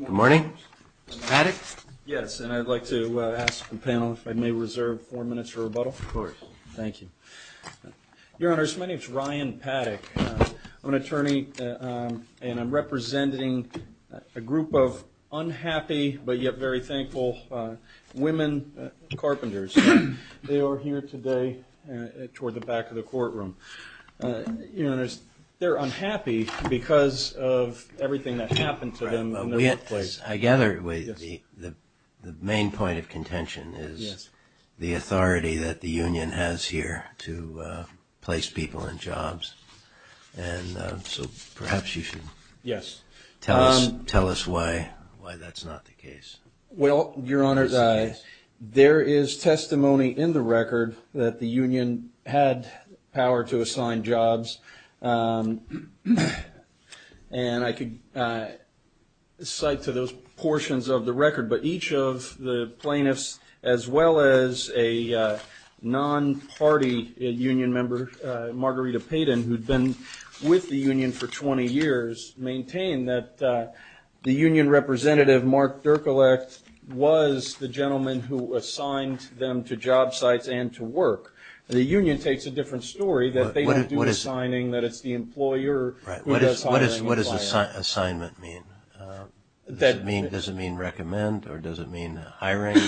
Good morning. Mr. Paddock? Yes, and I'd like to ask the panel if I may reserve four minutes for rebuttal. Of course. Thank you. Your Honors, my name is Ryan Paddock. I'm an attorney and I'm representing a group of unhappy but yet very thankful women carpenters. They are here today toward the back of the courtroom. You know, they're unhappy because of everything that happened to them in the workplace. I gather the main point of contention is the authority that the union has here to place people in jobs. And so perhaps you should tell us why that's not the case. Well, Your Honors, there is testimony in the record that the union had power to assign jobs. And I could cite to those portions of the record, but each of the plaintiffs, as well as a non-party union member, Margarita Payden, who'd been with the union for 20 years, maintain that the union representative, Mark Dirkolak, was the gentleman who assigned them to job sites and to work. The union takes a different story, that they don't do the assigning, that it's the employer who does hiring. What does assignment mean? Does it mean recommend or does it mean hiring?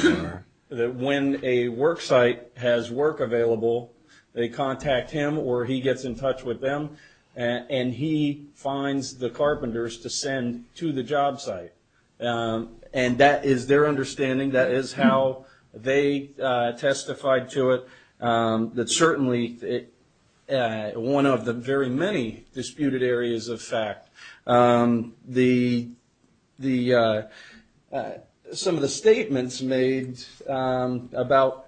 When a work site has work available, they contact him or he gets in touch with them, and he finds the carpenters to send to the job site. And that is their understanding. That is how they testified to it. That's certainly one of the very many disputed areas of fact. Some of the statements made about,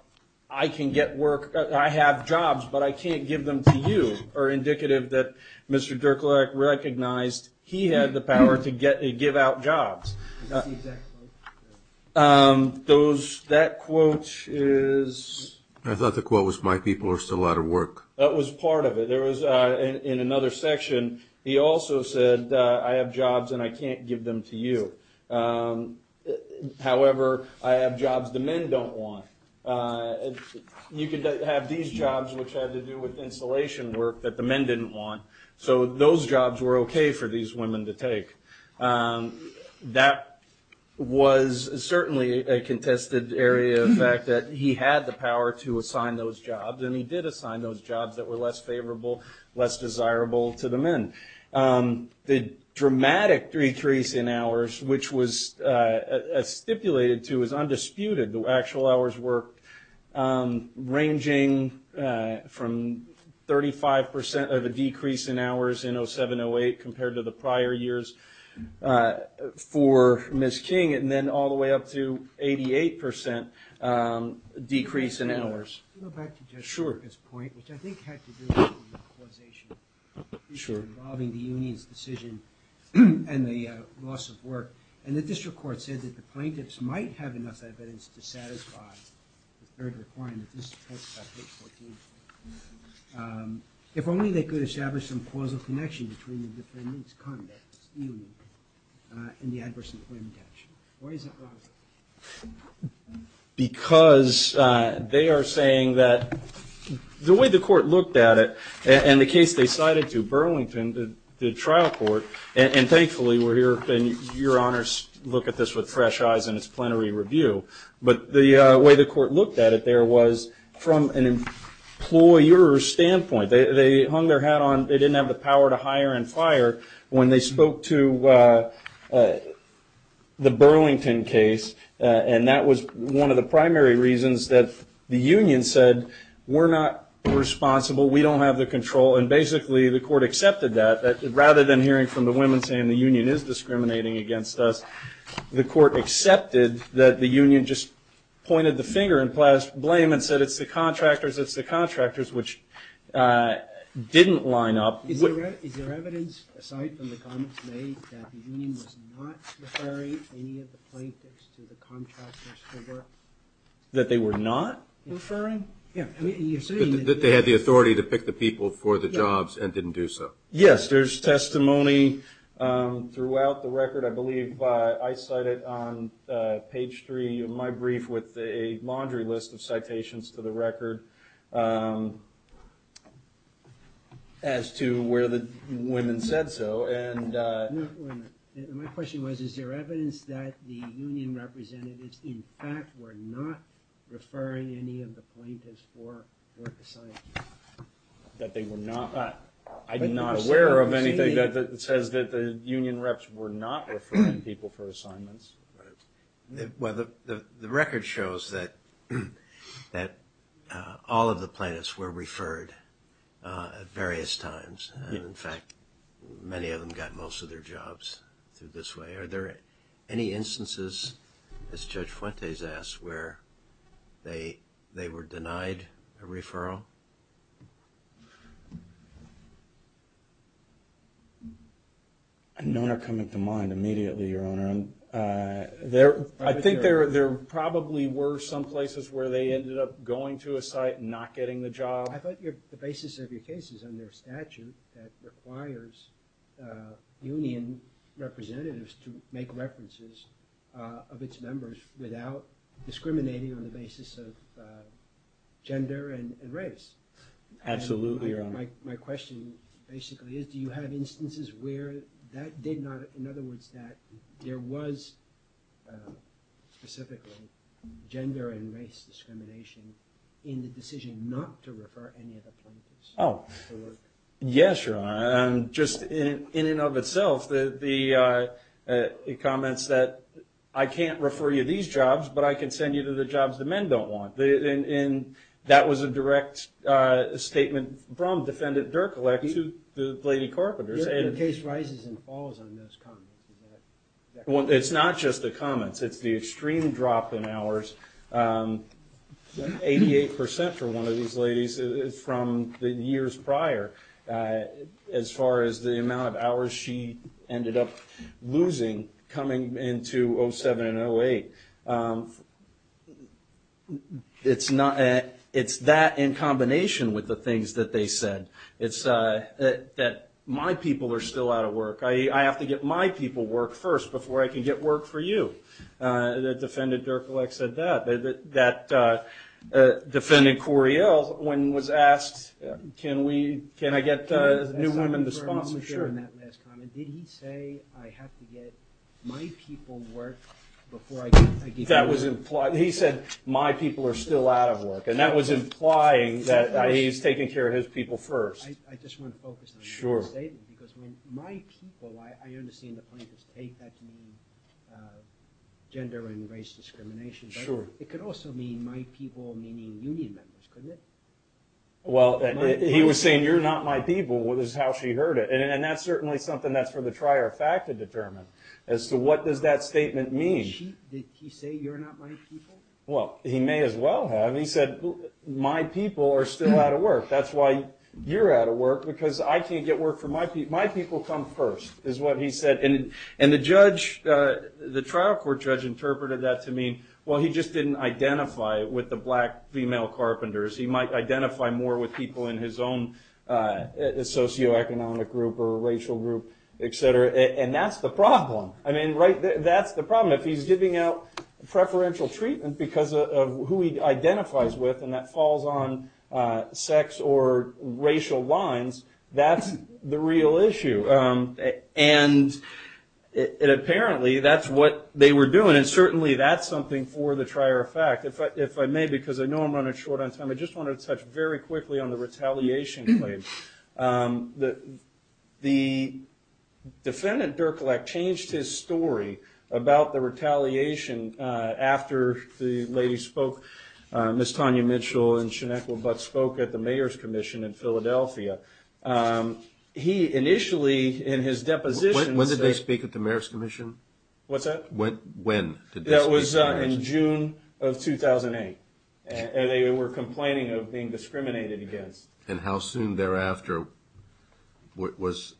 I can get work, I have jobs, but I can't give them to you, are indicative that Mr. Dirkolak recognized he had the power to give out jobs. That quote is? I thought the quote was, my people are still out of work. That was part of it. In another section, he also said, I have jobs and I can't give them to you. However, I have jobs the men don't want. You can have these jobs which have to do with installation work that the men didn't want. So those jobs were okay for these women to take. That was certainly a contested area of fact, that he had the power to assign those jobs, and he did assign those jobs that were less favorable, less desirable to the men. The dramatic decrease in hours, which was stipulated to, is undisputed. The actual hours worked, ranging from 35% of a decrease in hours in 07-08, compared to the prior years for Ms. King, and then all the way up to 88% decrease in hours. Back to Jessica's point, which I think had to do with causation, involving the union's decision and the loss of work. And the district court said that the plaintiffs might have enough evidence to satisfy the third requirement of this page 14. If only they could establish some causal connection between the defendants' conduct, stealing, and the adverse employment action. Why is it wrong? Because they are saying that the way the court looked at it, and the case they cited to Burlington, the trial court, and thankfully your honors look at this with fresh eyes in its plenary review, but the way the court looked at it there was from an employer's standpoint. They hung their hat on, they didn't have the power to hire and fire, when they spoke to the Burlington case, and that was one of the primary reasons that the union said, we're not responsible, we don't have the control, and basically the court accepted that. Rather than hearing from the women saying the union is discriminating against us, the court accepted that the union just pointed the finger and placed blame and said it's the contractors, it's the contractors, which didn't line up. Is there evidence, aside from the comments made, that the union was not referring any of the plaintiffs to the contractors' favor? That they were not referring? That they had the authority to pick the people for the jobs and didn't do so. Yes, there's testimony throughout the record. I believe I cite it on page three of my brief with a laundry list of citations to the record as to where the women said so. My question was, is there evidence that the union representatives, in fact, were not referring any of the plaintiffs for work assignments? That they were not? I'm not aware of anything that says that the union reps were not referring people for assignments. The record shows that all of the plaintiffs were referred at various times. In fact, many of them got most of their jobs through this way. Are there any instances, as Judge Fuentes asked, where they were denied a referral? None are coming to mind immediately, Your Honor. I think there probably were some places where they ended up going to a site and not getting the job. I thought the basis of your case is under statute that requires union representatives to make references of its members without discriminating on the basis of gender and race. Absolutely, Your Honor. My question basically is, do you have instances where that did not, in other words, that there was specifically gender and race discrimination in the decision not to refer any of the plaintiffs for work? Yes, Your Honor. Just in and of itself, the comments that, I can't refer you to these jobs, but I can send you to the jobs the men don't want. That was a direct statement from Defendant Derkulak to the lady carpenters. Your case rises and falls on those comments. It's not just the comments. It's the extreme drop in hours. Eighty-eight percent for one of these ladies from the years prior as far as the amount of hours she ended up losing coming into 07 and 08. It's that in combination with the things that they said. It's that my people are still out of work. I have to get my people work first before I can get work for you. Defendant Derkulak said that. That Defendant Coriell, when was asked, can I get new women to sponsor, sure. Did he say, I have to get my people work before I get work? That was implied. He said, my people are still out of work, and that was implying that he's taking care of his people first. I just want to focus on that statement because when my people, I understand the plaintiff's take. That can mean gender and race discrimination, but it could also mean my people meaning union members, couldn't it? Well, he was saying, you're not my people is how she heard it, and that's certainly something that's for the trier of fact to determine as to what does that statement mean. Did he say, you're not my people? Well, he may as well have. He said, my people are still out of work. That's why you're out of work because I can't get work for my people. My people come first is what he said, and the trial court judge interpreted that to mean, well, he just didn't identify with the black female carpenters. He might identify more with people in his own socioeconomic group or racial group, et cetera, and that's the problem. That's the problem. If he's giving out preferential treatment because of who he identifies with and that falls on sex or racial lines, that's the real issue. And apparently, that's what they were doing, and certainly that's something for the trier of fact. If I may, because I know I'm running short on time, I just wanted to touch very quickly on the retaliation claim. The defendant, Derkulak, changed his story about the retaliation after the lady spoke, Ms. Tanya Mitchell and Sinequa Butts, spoke at the mayor's commission in Philadelphia. He initially in his deposition said – When did they speak at the mayor's commission? When did they speak at the mayor's commission? That was in June of 2008, and they were complaining of being discriminated against. And how soon thereafter was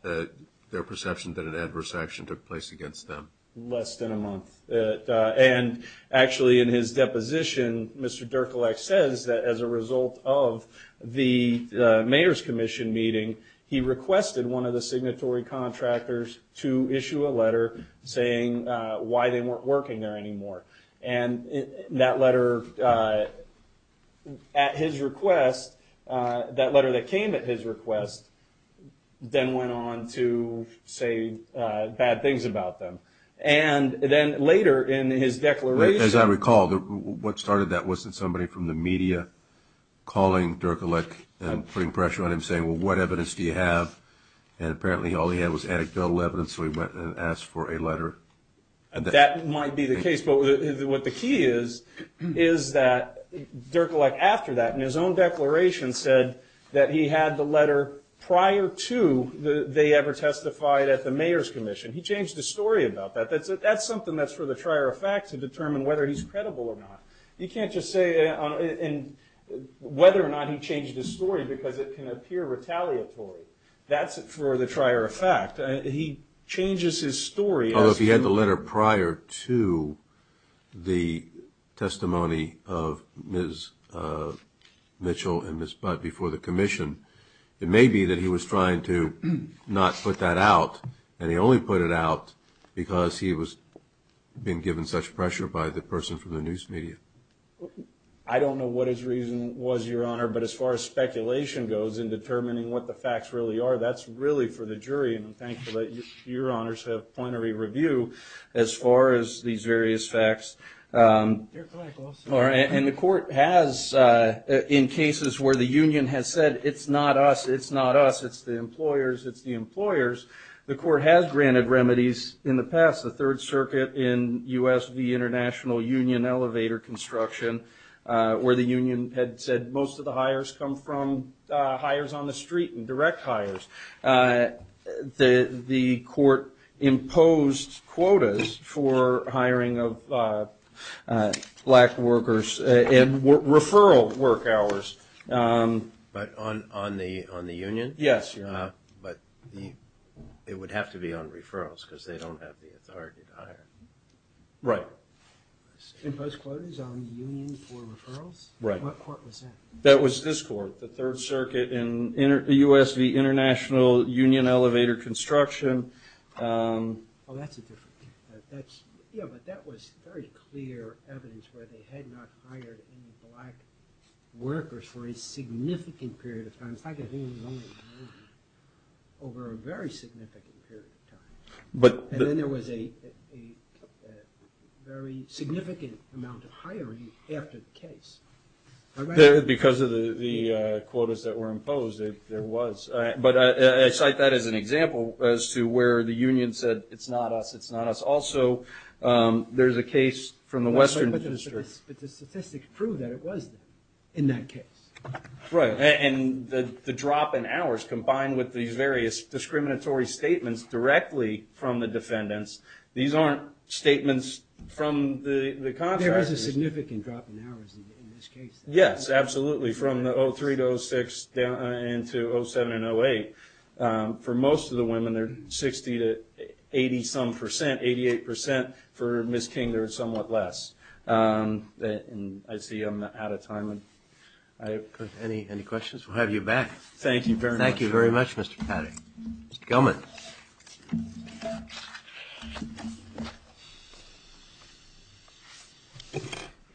their perception that an adverse action took place against them? Less than a month. And actually in his deposition, Mr. Derkulak says that as a result of the mayor's commission meeting, he requested one of the signatory contractors to issue a letter saying why they weren't working there anymore. And that letter at his request, that letter that came at his request, then went on to say bad things about them. And then later in his declaration – As I recall, what started that wasn't somebody from the media calling Derkulak and putting pressure on him, saying, well, what evidence do you have? And apparently all he had was anecdotal evidence, so he went and asked for a letter. That might be the case. But what the key is, is that Derkulak, after that, in his own declaration said that he had the letter prior to they ever testified at the mayor's commission. He changed his story about that. That's something that's for the trier of fact to determine whether he's credible or not. You can't just say whether or not he changed his story because it can appear retaliatory. That's for the trier of fact. He changes his story as to – of Ms. Mitchell and Ms. Butt before the commission. It may be that he was trying to not put that out, and he only put it out because he was being given such pressure by the person from the news media. I don't know what his reason was, Your Honor, but as far as speculation goes in determining what the facts really are, that's really for the jury. And I'm thankful that Your Honors have point of review as far as these various facts. And the court has, in cases where the union has said it's not us, it's not us, it's the employers, it's the employers, the court has granted remedies in the past. The Third Circuit in U.S. v. International Union Elevator Construction, where the union had said most of the hires come from hires on the street and direct hires. The court imposed quotas for hiring of black workers and referral work hours. But on the union? Yes, Your Honor. But it would have to be on referrals because they don't have the authority to hire. Right. Imposed quotas on union for referrals? Right. What court was that? That was this court, the Third Circuit in U.S. v. International Union Elevator Construction. Oh, that's a different case. Yeah, but that was very clear evidence where they had not hired any black workers for a significant period of time. It's not because the union was only a union. Over a very significant period of time. And then there was a very significant amount of hiring after the case. Because of the quotas that were imposed, there was. But I cite that as an example as to where the union said, it's not us, it's not us. Also, there's a case from the Western District. But the statistics prove that it was in that case. Right. And the drop in hours combined with these various discriminatory statements directly from the defendants, these aren't statements from the contractors. That's a significant drop in hours in this case. Yes, absolutely. From the 03 to 06 and to 07 and 08. For most of the women, they're 60 to 80-some percent, 88%. For Ms. King, they're somewhat less. And I see I'm out of time. Any questions? We'll have you back. Thank you very much, Mr. Paddy. Mr. Gelman.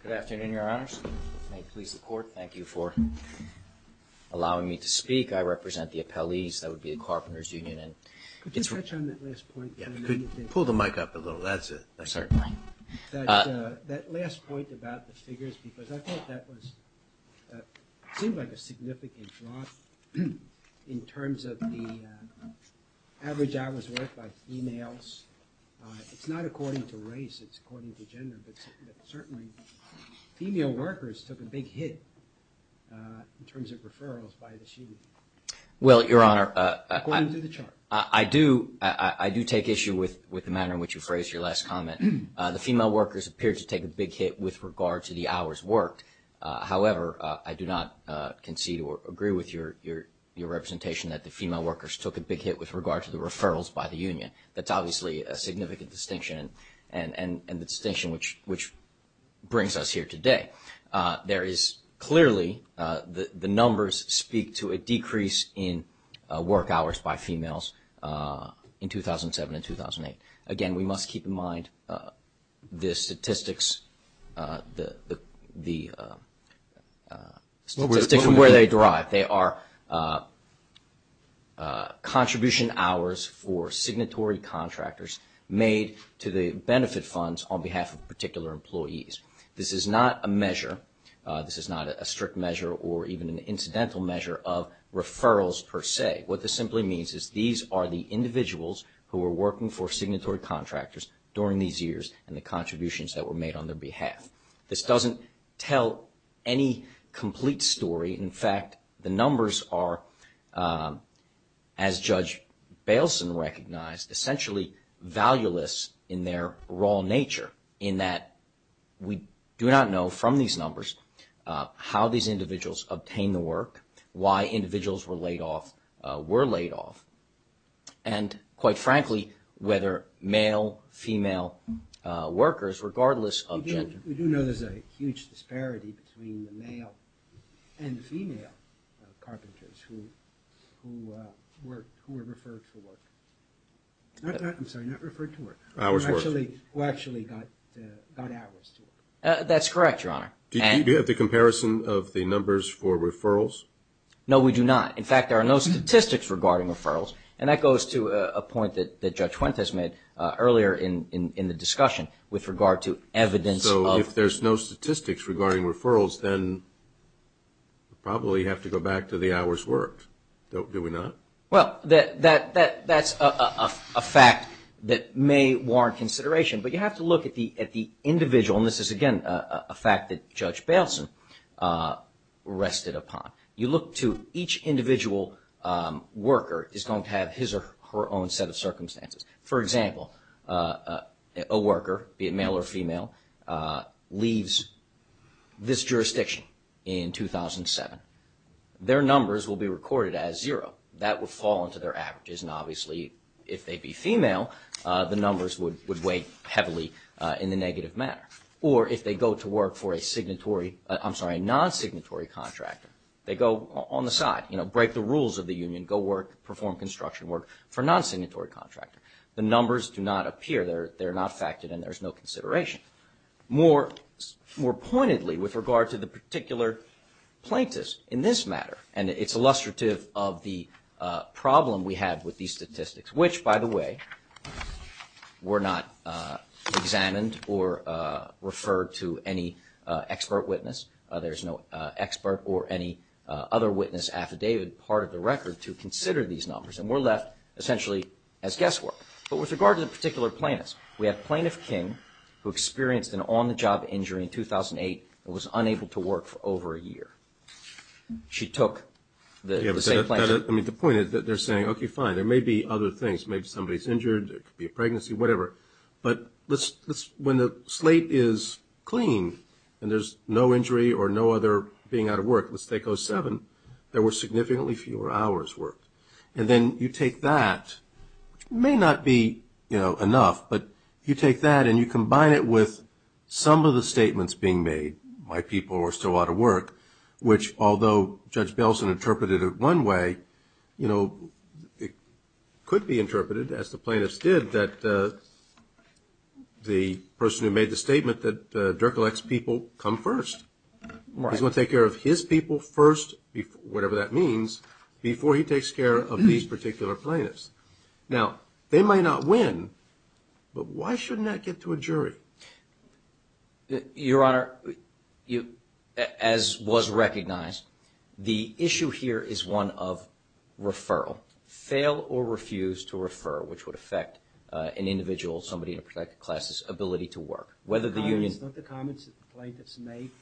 Good afternoon, Your Honors. May it please the Court, thank you for allowing me to speak. I represent the appellees. That would be the Carpenters Union. Could you touch on that last point? Pull the mic up a little. That's it. I'm sorry. That last point about the figures, because I thought that seemed like a significant drop in terms of the average hours worked by females. It's not according to race, it's according to gender, but certainly female workers took a big hit in terms of referrals by the sheet. Well, Your Honor, I do take issue with the manner in which you phrased your last comment. The female workers appeared to take a big hit with regard to the hours worked. However, I do not concede or agree with your representation that the female workers took a big hit with regard to the referrals by the union. That's obviously a significant distinction, and the distinction which brings us here today. There is clearly the numbers speak to a decrease in work hours by females in 2007 and 2008. Again, we must keep in mind the statistics from where they derive. They are contribution hours for signatory contractors made to the benefit funds on behalf of particular employees. This is not a measure. This is not a strict measure or even an incidental measure of referrals per se. What this simply means is these are the individuals who were working for signatory contractors during these years and the contributions that were made on their behalf. This doesn't tell any complete story. In fact, the numbers are, as Judge Bailson recognized, essentially valueless in their raw nature, in that we do not know from these numbers how these individuals obtained the work, why individuals were laid off and, quite frankly, whether male, female workers, regardless of gender. We do know there's a huge disparity between the male and female carpenters who were referred to work. I'm sorry, not referred to work. Hours worked. Who actually got hours to work. That's correct, Your Honor. Do you have the comparison of the numbers for referrals? No, we do not. In fact, there are no statistics regarding referrals, and that goes to a point that Judge Fuentes made earlier in the discussion with regard to evidence. So if there's no statistics regarding referrals, then we probably have to go back to the hours worked, do we not? Well, that's a fact that may warrant consideration, but you have to look at the individual, and this is, again, a fact that Judge Bailson rested upon. You look to each individual worker is going to have his or her own set of circumstances. For example, a worker, be it male or female, leaves this jurisdiction in 2007. Their numbers will be recorded as zero. That would fall into their averages, and obviously if they'd be female, the numbers would weigh heavily in the negative manner. Or if they go to work for a non-signatory contractor, they go on the side, break the rules of the union, go work, perform construction work for a non-signatory contractor. The numbers do not appear. They're not factored, and there's no consideration. More pointedly, with regard to the particular plaintiffs in this matter, and it's illustrative of the problem we have with these statistics, which, by the way, were not examined or referred to any expert witness. There's no expert or any other witness affidavit part of the record to consider these numbers, and were left essentially as guesswork. But with regard to the particular plaintiffs, we have Plaintiff King, who experienced an on-the-job injury in 2008 and was unable to work for over a year. She took the same plaintiff. I mean, the point is that they're saying, okay, fine. There may be other things. Maybe somebody's injured. It could be a pregnancy, whatever. But when the slate is clean and there's no injury or no other being out of work, let's take 07, there were significantly fewer hours worked. And then you take that, which may not be, you know, enough, but you take that and you combine it with some of the statements being made, my people are still out of work, which although Judge Belson interpreted it one way, you know, it could be interpreted, as the plaintiffs did, that the person who made the statement that Dirk elects people come first. He's going to take care of his people first, whatever that means, before he takes care of these particular plaintiffs. Now, they might not win, but why shouldn't that get to a jury? Your Honor, as was recognized, the issue here is one of referral. Fail or refuse to refer, which would affect an individual, somebody in a protected class' ability to work. Whether the union – The comments that the plaintiffs make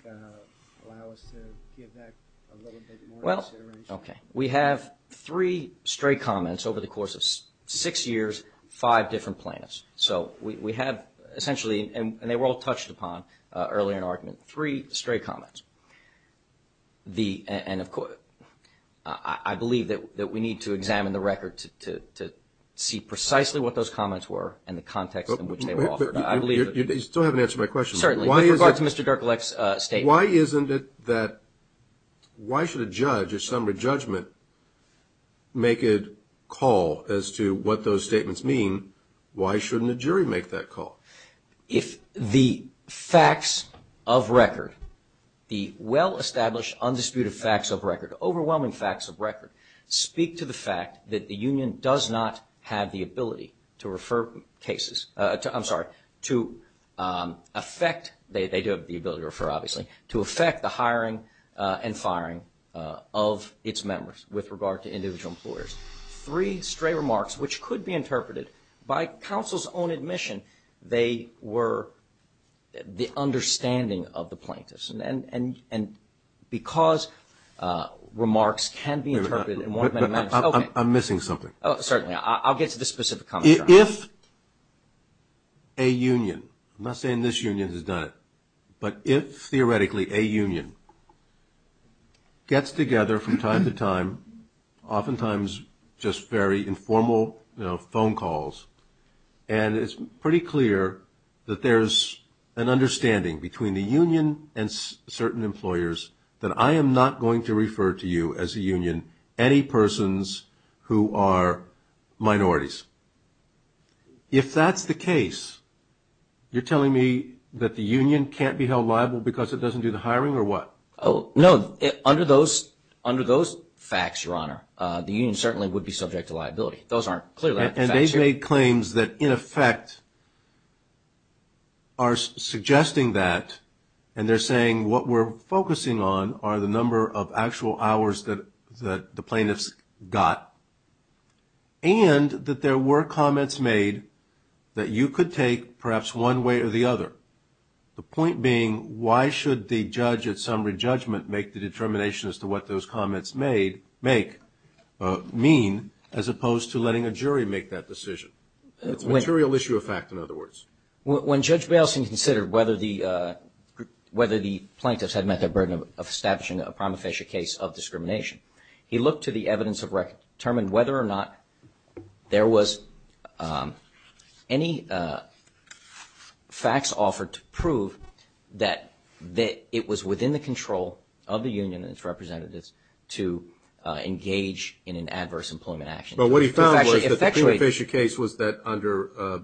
allow us to give that a little bit more consideration. Okay. We have three stray comments over the course of six years, five different plaintiffs. So we have essentially, and they were all touched upon earlier in the argument, three stray comments. And I believe that we need to examine the record to see precisely what those comments were and the context in which they were offered. You still haven't answered my question. Certainly. With regard to Mr. Dirk elect's statement. Why isn't it that – why should a judge, a summary judgment, make a call as to what those statements mean? Why shouldn't a jury make that call? If the facts of record, the well-established, undisputed facts of record, overwhelming facts of record, speak to the fact that the union does not have the ability to refer cases – I'm sorry, to affect – they do have the ability to refer, obviously – to affect the hiring and firing of its members with regard to individual employers. Three stray remarks which could be interpreted by counsel's own admission they were the understanding of the plaintiffs. And because remarks can be interpreted – I'm missing something. Certainly. I'll get to the specific comment. If a union – I'm not saying this union has done it – but if theoretically a union gets together from time to time, oftentimes just very informal, you know, phone calls, and it's pretty clear that there's an understanding between the union and certain employers that I am not going to refer to you as a union any persons who are minorities. If that's the case, you're telling me that the union can't be held liable because it doesn't do the hiring or what? No. Under those facts, Your Honor, the union certainly would be subject to liability. Those aren't clear facts. And they've made claims that, in effect, are suggesting that, and they're saying what we're focusing on are the number of actual hours that the plaintiffs got, and that there were comments made that you could take perhaps one way or the other. The point being, why should the judge at summary judgment make the determination as to what those comments make – It's a material issue of fact, in other words. When Judge Bayleson considered whether the plaintiffs had met their burden of establishing a prima facie case of discrimination, he looked to the evidence to determine whether or not there was any facts offered to prove that it was within the control of the union and its representatives to engage in an adverse employment action. But what he found was that the prima facie case was that, under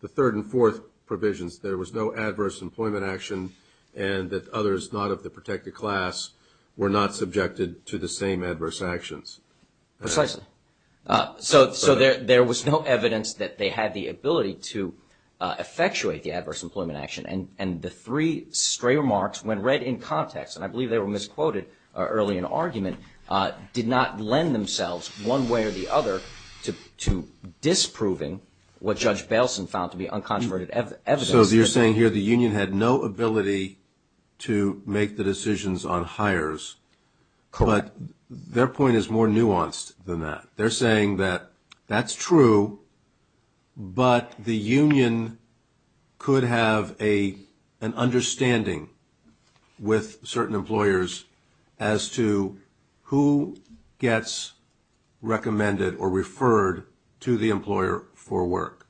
the third and fourth provisions, there was no adverse employment action and that others not of the protected class were not subjected to the same adverse actions. Precisely. So there was no evidence that they had the ability to effectuate the adverse employment action. And the three stray remarks, when read in context, and I believe they were misquoted early in the argument, did not lend themselves one way or the other to disproving what Judge Bayleson found to be uncontroverted evidence. So you're saying here the union had no ability to make the decisions on hires. Correct. But their point is more nuanced than that. They're saying that that's true, but the union could have an understanding with certain employers as to who gets recommended or referred to the employer for work.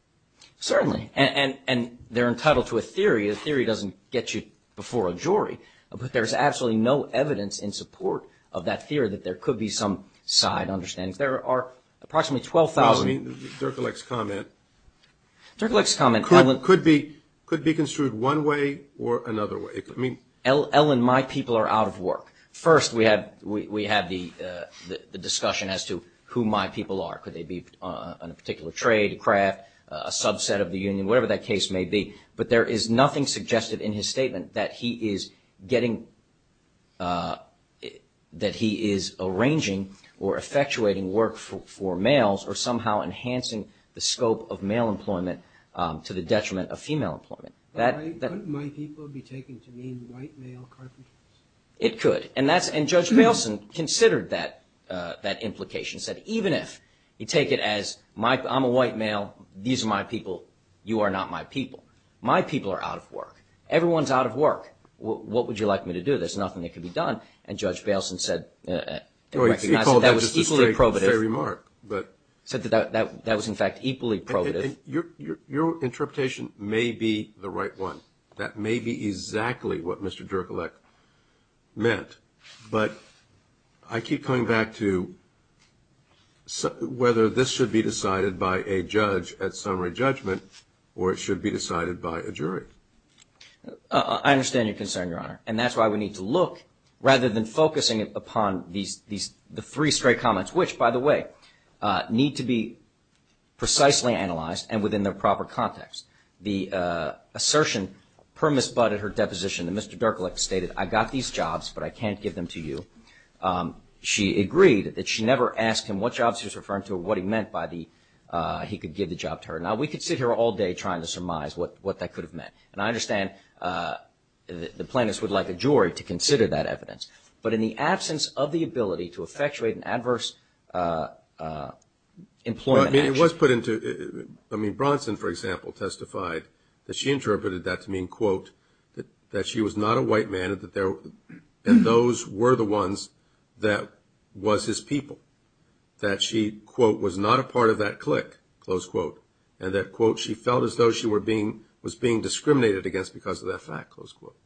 Certainly. And they're entitled to a theory. A theory doesn't get you before a jury. But there's absolutely no evidence in support of that theory that there could be some side understandings. There are approximately 12,000. No, I mean Dirk Alec's comment. Dirk Alec's comment. Could be construed one way or another way. Ellen, my people are out of work. First, we have the discussion as to who my people are. Could they be on a particular trade, a craft, a subset of the union, whatever that case may be. But there is nothing suggested in his statement that he is getting, that he is arranging or effectuating work for males or somehow enhancing the scope of male employment to the detriment of female employment. Couldn't my people be taken to mean white male carpenters? It could. And Judge Bailson considered that implication, said even if you take it as I'm a white male. These are my people. You are not my people. My people are out of work. Everyone's out of work. What would you like me to do? There's nothing that could be done. And Judge Bailson said that was equally probative. Said that was in fact equally probative. Your interpretation may be the right one. That may be exactly what Mr. Dierkelecht meant. But I keep coming back to whether this should be decided by a judge at summary judgment or it should be decided by a jury. I understand your concern, Your Honor. And that's why we need to look rather than focusing upon the three straight comments, which, by the way, need to be precisely analyzed and within the proper context. The assertion per Miss Budd at her deposition that Mr. Dierkelecht stated, I got these jobs, but I can't give them to you. She agreed that she never asked him what jobs he was referring to or what he meant by the he could give the job to her. Now, we could sit here all day trying to surmise what that could have meant. And I understand the plaintiffs would like a jury to consider that evidence. But in the absence of the ability to effectuate an adverse employment action. I mean, it was put into, I mean, Bronson, for example, testified that she interpreted that to mean, quote, that she was not a white man and that those were the ones that was his people. That she, quote, was not a part of that clique, close quote. And that, quote, she felt as though she was being discriminated against because of that fact, close quote.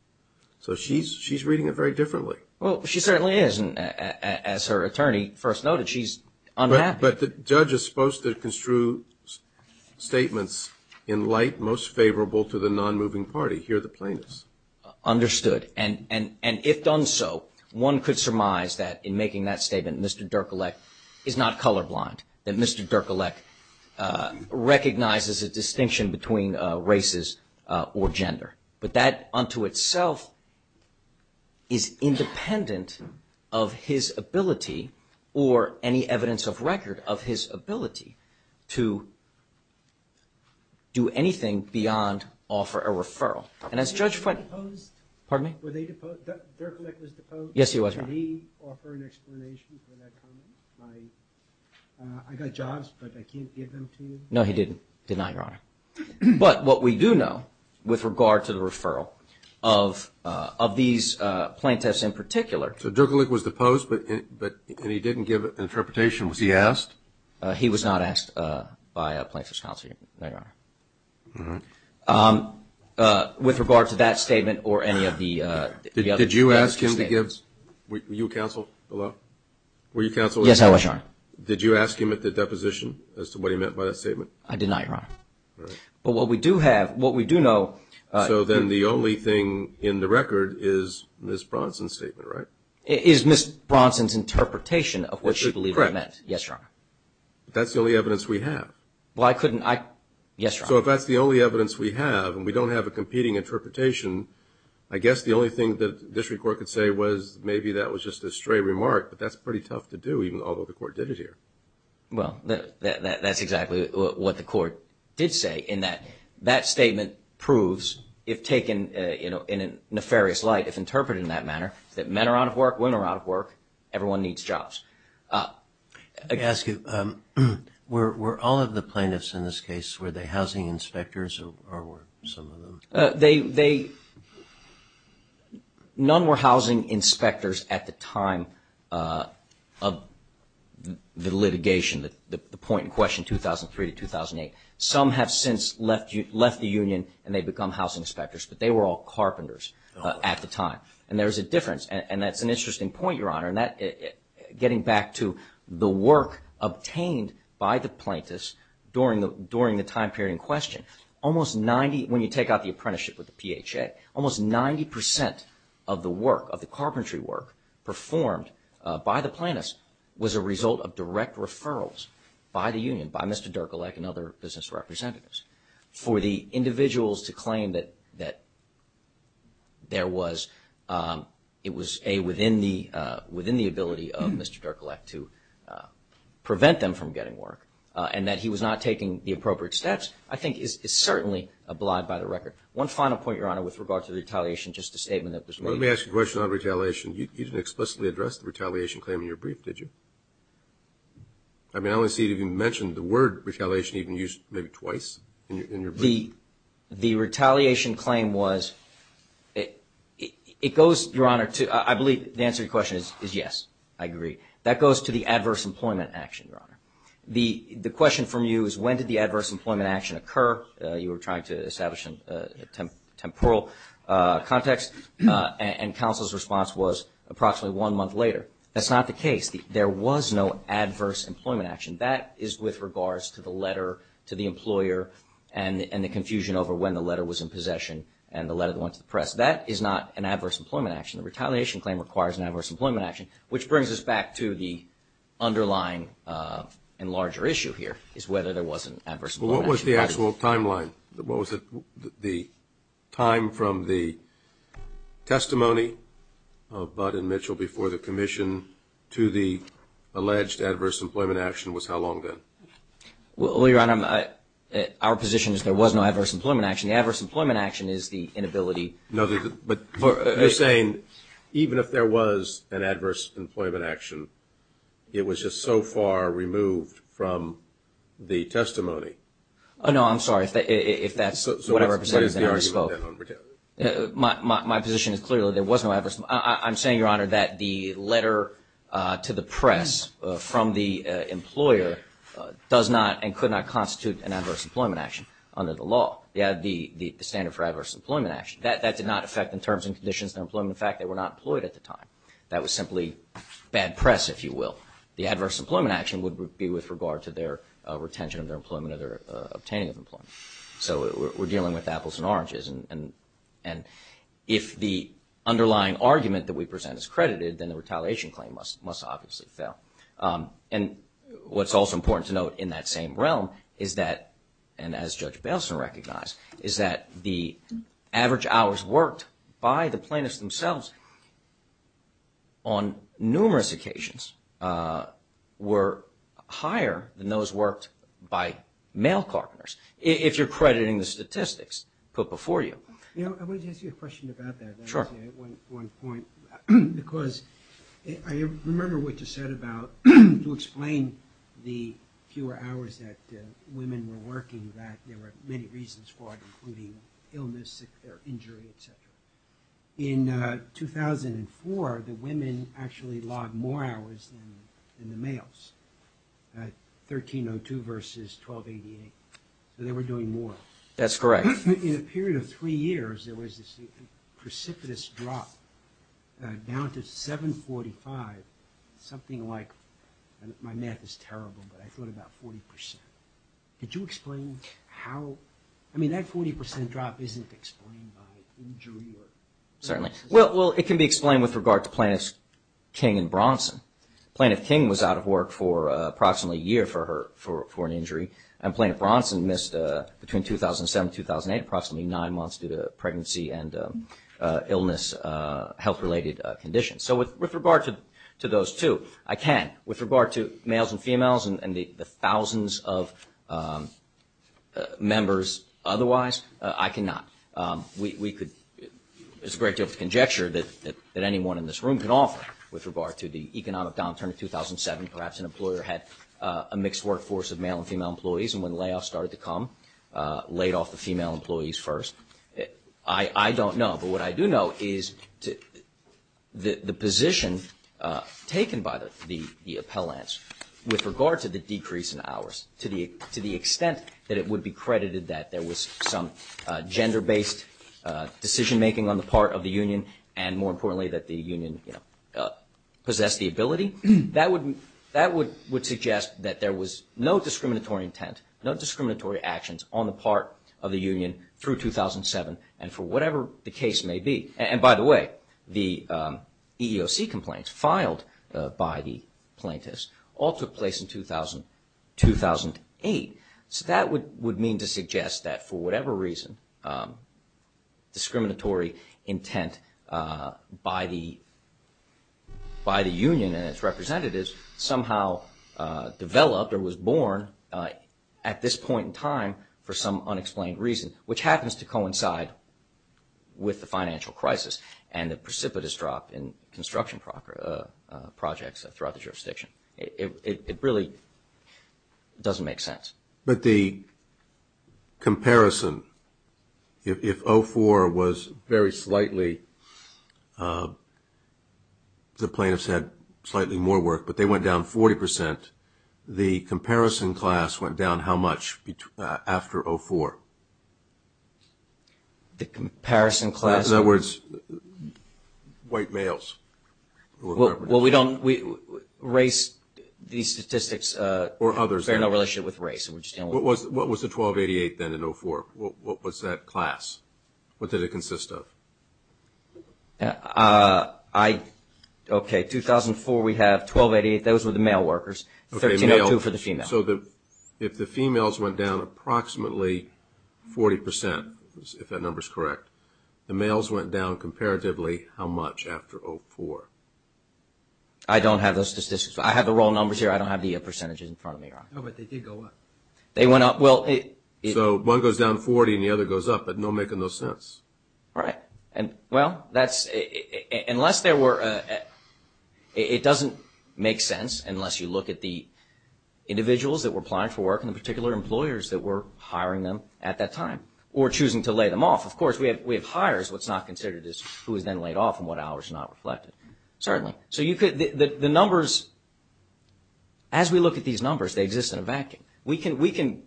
So she's reading it very differently. Well, she certainly is. And as her attorney first noted, she's unhappy. But the judge is supposed to construe statements in light most favorable to the non-moving party. Here are the plaintiffs. Understood. And if done so, one could surmise that in making that statement, Mr. Dierkolek is not colorblind, that Mr. Dierkolek recognizes a distinction between races or gender. But that unto itself is independent of his ability or any evidence of record of his ability to do anything beyond offer a referral. And as Judge French. Were they deposed? Pardon me? Were they deposed? Dierkolek was deposed? Yes, he was, Your Honor. Did he offer an explanation for that comment? Like, I got jobs, but I can't give them to you? No, he didn't. Did not, Your Honor. But what we do know with regard to the referral of these plaintiffs in particular. So Dierkolek was deposed, but he didn't give an interpretation. Was he asked? He was not asked by a plaintiff's counsel, Your Honor. All right. With regard to that statement or any of the other statements. Did you ask him to give, were you counsel below? Were you counsel? Yes, I was, Your Honor. Did you ask him at the deposition as to what he meant by that statement? I did not, Your Honor. All right. But what we do have, what we do know. So then the only thing in the record is Ms. Bronson's statement, right? Is Ms. Bronson's interpretation of what she believed it meant. Correct. Yes, Your Honor. That's the only evidence we have. Well, I couldn't, I, yes, Your Honor. So if that's the only evidence we have and we don't have a competing interpretation, I guess the only thing that the district court could say was maybe that was just a stray remark, but that's pretty tough to do even though the court did it here. Well, that's exactly what the court did say in that that statement proves, if taken in a nefarious light, if interpreted in that manner, that men are out of work, women are out of work, everyone needs jobs. Let me ask you, were all of the plaintiffs in this case, were they housing inspectors or were some of them? They, none were housing inspectors at the time of the litigation, the point in question 2003 to 2008. Some have since left the union and they've become housing inspectors, but they were all carpenters at the time. And there's a difference, and that's an interesting point, Your Honor, getting back to the work obtained by the plaintiffs during the time period in question. Almost 90, when you take out the apprenticeship with the PHA, almost 90% of the work, of the carpentry work, performed by the plaintiffs was a result of direct referrals by the union, by Mr. Dierkelec and other business representatives. For the individuals to claim that there was, it was within the ability of Mr. Dierkelec to prevent them from getting work and that he was not taking the appropriate steps, I think is certainly obliged by the record. One final point, Your Honor, with regard to the retaliation, just a statement that was made. Let me ask you a question on retaliation. You didn't explicitly address the retaliation claim in your brief, did you? I mean, I don't see it even mentioned, the word retaliation even used maybe twice in your brief. The retaliation claim was, it goes, Your Honor, to, I believe the answer to your question is yes, I agree. That goes to the adverse employment action, Your Honor. The question from you is when did the adverse employment action occur? You were trying to establish a temporal context, and counsel's response was approximately one month later. That's not the case. There was no adverse employment action. That is with regards to the letter to the employer and the confusion over when the letter was in possession and the letter that went to the press. That is not an adverse employment action. The retaliation claim requires an adverse employment action, which brings us back to the underlying and larger issue here is whether there was an adverse employment action. Well, what was the actual timeline? What was the time from the testimony of Budd and Mitchell before the commission to the alleged adverse employment action was how long then? Well, Your Honor, our position is there was no adverse employment action. The adverse employment action is the inability. No, but you're saying even if there was an adverse employment action, it was just so far removed from the testimony. No, I'm sorry. If that's what I represented, then I misspoke. My position is clearly there was no adverse. I'm saying, Your Honor, that the letter to the press from the employer does not and could not constitute an adverse employment action under the law, the standard for adverse employment action. That did not affect the terms and conditions of their employment. In fact, they were not employed at the time. That was simply bad press, if you will. The adverse employment action would be with regard to their retention of their employment or their obtaining of employment. So we're dealing with apples and oranges. And if the underlying argument that we present is credited, then the retaliation claim must obviously fail. And what's also important to note in that same realm is that, and as Judge Bailson recognized, is that the average hours worked by the plaintiffs themselves on numerous occasions were higher than those worked by male partners, if you're crediting the statistics put before you. I wanted to ask you a question about that. Sure. One point, because I remember what you said about, to explain the fewer hours that women were working, that there were many reasons for it, including illness, injury, et cetera. In 2004, the women actually logged more hours than the males, 1302 versus 1288. So they were doing more. That's correct. In a period of three years, there was this precipitous drop down to 745, something like, my math is terrible, but I thought about 40%. Could you explain how, I mean, that 40% drop isn't explained by injury? Certainly. Well, it can be explained with regard to Plaintiff King and Bronson. Plaintiff King was out of work for approximately a year for an injury, and Plaintiff Bronson missed, between 2007 and 2008, approximately nine months due to pregnancy and illness, health-related conditions. So with regard to those two, I can. With regard to males and females and the thousands of members otherwise, I cannot. It's a great deal of conjecture that anyone in this room can offer with regard to the economic downturn of 2007. Perhaps an employer had a mixed workforce of male and female employees, and when layoffs started to come, laid off the female employees first. I don't know. But what I do know is the position taken by the appellants with regard to the decrease in hours, to the extent that it would be credited that there was some gender-based decision-making on the part of the union, and more importantly, that the union possessed the ability, that would suggest that there was no discriminatory intent, no discriminatory actions on the part of the union through 2007, and for whatever the case may be. And by the way, the EEOC complaints filed by the plaintiffs all took place in 2008. So that would mean to suggest that for whatever reason, discriminatory intent by the union and its representatives somehow developed or was born at this point in time for some unexplained reason, which happens to coincide with the financial crisis and the precipitous drop in construction projects throughout the jurisdiction. It really doesn't make sense. But the comparison, if 04 was very slightly, the plaintiffs had slightly more work, but they went down 40 percent, the comparison class went down how much after 04? The comparison class? In other words, white males. Well, we don't – race, these statistics bear no relationship with race. What was the 1288 then in 04? What was that class? What did it consist of? I – okay, 2004 we have 1288. Those were the male workers. 1302 for the female. So if the females went down approximately 40 percent, if that number is correct, the males went down comparatively how much after 04? I don't have those statistics. I have the roll numbers here. I don't have the percentages in front of me. No, but they did go up. They went up. Well, it – So one goes down 40 and the other goes up, but no – making no sense. Right. And, well, that's – unless there were – it doesn't make sense unless you look at the individuals that were applying for work and the particular employers that were hiring them at that time or choosing to lay them off. Of course, we have hires. What's not considered is who was then laid off and what hours not reflected. Certainly. So you could – the numbers – as we look at these numbers, they exist in a vacuum. We can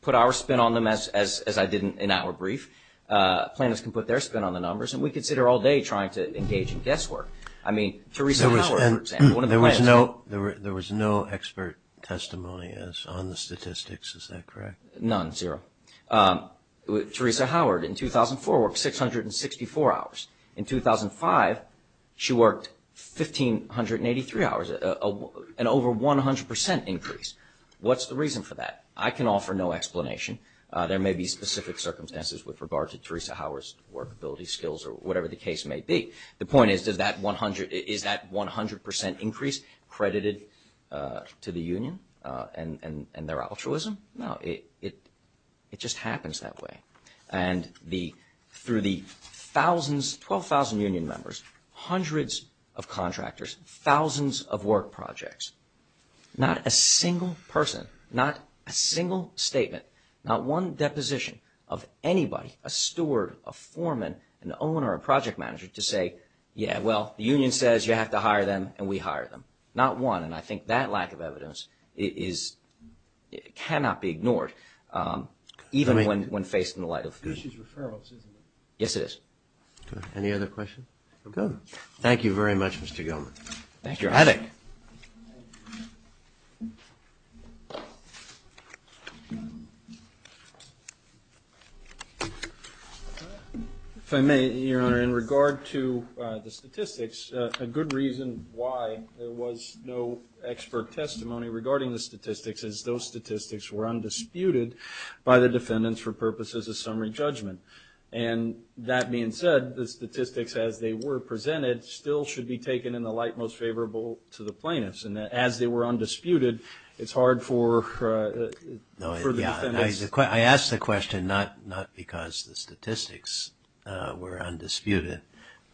put our spin on them, as I did in our brief. Planners can put their spin on the numbers, and we could sit here all day trying to engage in guesswork. I mean, Theresa Howard, for example, one of the planners – There was no expert testimony on the statistics. Is that correct? None, zero. Theresa Howard in 2004 worked 664 hours. In 2005, she worked 1,583 hours, an over 100 percent increase. What's the reason for that? I can offer no explanation. There may be specific circumstances with regard to Theresa Howard's workability skills or whatever the case may be. The point is, does that 100 – is that 100 percent increase credited to the union and their altruism? No, it just happens that way. And through the thousands – 12,000 union members, hundreds of contractors, thousands of work projects, not a single person, not a single statement, not one deposition of anybody – a steward, a foreman, an owner, a project manager – to say, yeah, well, the union says you have to hire them, and we hire them. Not one. And I think that lack of evidence is – cannot be ignored, even when faced in the light of truth. This is referrals, isn't it? Yes, it is. Any other questions? We're good. Thank you very much, Mr. Gelman. Thank you. If I may, Your Honor, in regard to the statistics, a good reason why there was no expert testimony regarding the statistics is those statistics were undisputed by the defendants for purposes of summary judgment. And that being said, the statistics, as they were presented, still should be taken in the light most favorable to the plaintiffs. And as they were undisputed, it's hard for the defendants – I ask the question not because the statistics were undisputed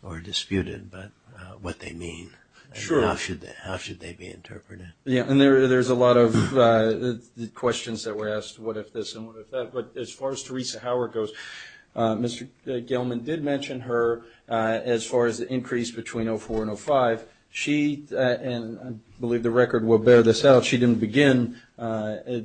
or disputed, but what they mean. Sure. How should they be interpreted? Yeah, and there's a lot of questions that were asked, what if this and what if that. But as far as Theresa Howard goes, Mr. Gelman did mention her as far as the increase between 04 and 05. She – and I believe the record will bear this out – she didn't begin to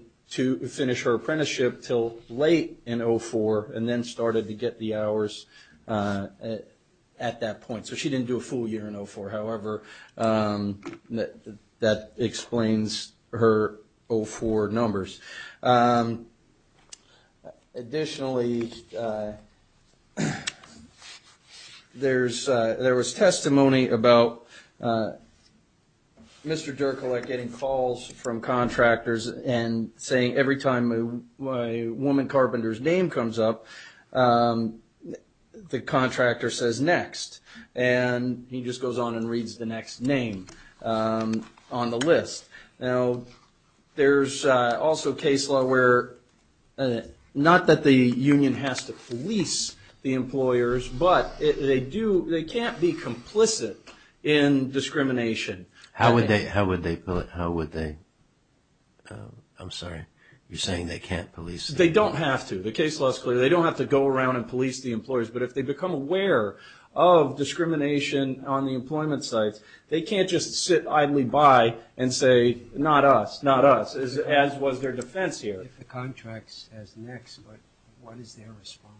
finish her apprenticeship until late in 04 and then started to get the hours at that point. So she didn't do a full year in 04. However, that explains her 04 numbers. Additionally, there was testimony about Mr. Derkulak getting calls from contractors and saying every time a woman carpenter's name comes up, the contractor says next. And he just goes on and reads the next name on the list. Now, there's also case law where not that the union has to police the employers, but they do – they can't be complicit in discrimination. How would they – I'm sorry, you're saying they can't police them. They don't have to. The case law is clear. They don't have to go around and police the employers. But if they become aware of discrimination on the employment sites, they can't just sit idly by and say, not us, not us, as was their defense here. If the contract says next, what is their response?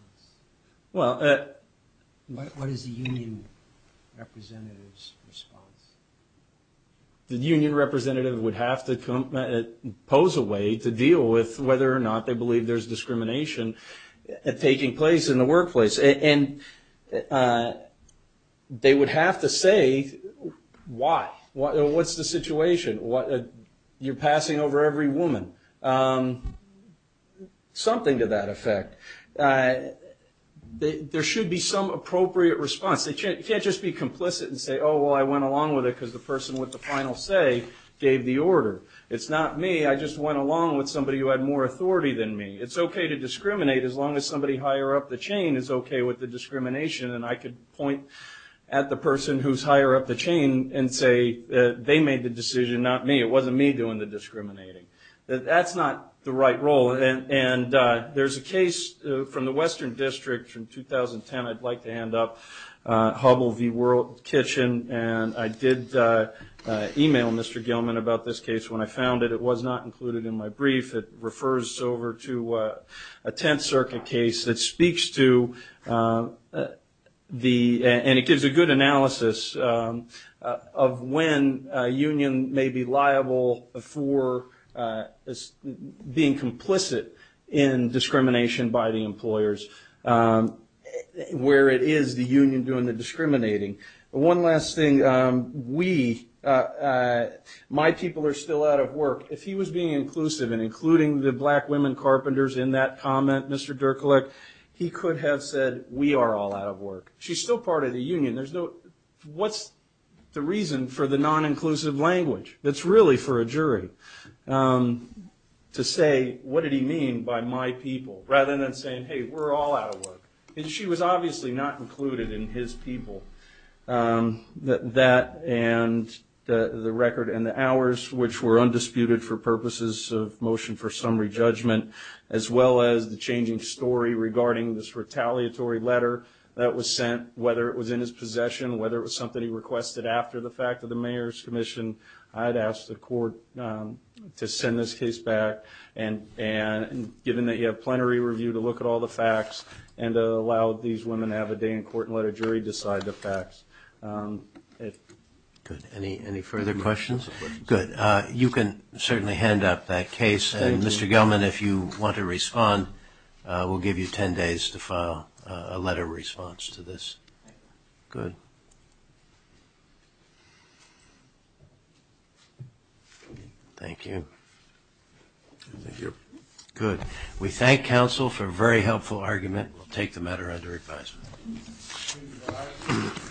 What is the union representative's response? The union representative would have to pose a way to deal with whether or not they believe there's discrimination taking place in the workplace. And they would have to say why. What's the situation? You're passing over every woman, something to that effect. There should be some appropriate response. They can't just be complicit and say, oh, well, I went along with it because the person with the final say gave the order. It's not me. I just went along with somebody who had more authority than me. It's okay to discriminate as long as somebody higher up the chain is okay with the discrimination. And I could point at the person who's higher up the chain and say they made the decision, not me. It wasn't me doing the discriminating. That's not the right role. And there's a case from the Western District from 2010 I'd like to hand up, Hubbell v. World Kitchen. And I did email Mr. Gilman about this case when I found it. It was not included in my brief. It refers over to a Tenth Circuit case that speaks to the and it gives a good analysis of when a union may be liable for being complicit in discrimination by the employers where it is the union doing the discriminating. One last thing. We, my people are still out of work. If he was being inclusive and including the black women carpenters in that comment, Mr. Derkulik, he could have said we are all out of work. She's still part of the union. What's the reason for the non-inclusive language that's really for a jury to say what did he mean by my people rather than saying, hey, we're all out of work. She was obviously not included in his people. That and the record and the hours, which were undisputed for purposes of motion for summary judgment, as well as the changing story regarding this retaliatory letter that was sent, whether it was in his possession, whether it was something he requested after the fact of the Mayor's Commission, I'd ask the court to send this case back. And given that you have plenary review to look at all the facts and to allow these women to have a day in court and let a jury decide the facts. Good. Any further questions? Good. You can certainly hand up that case. And, Mr. Gelman, if you want to respond, we'll give you 10 days to file a letter of response to this. Good. Thank you. Thank you. Good. We thank counsel for a very helpful argument. We'll take the matter under advisement. All right.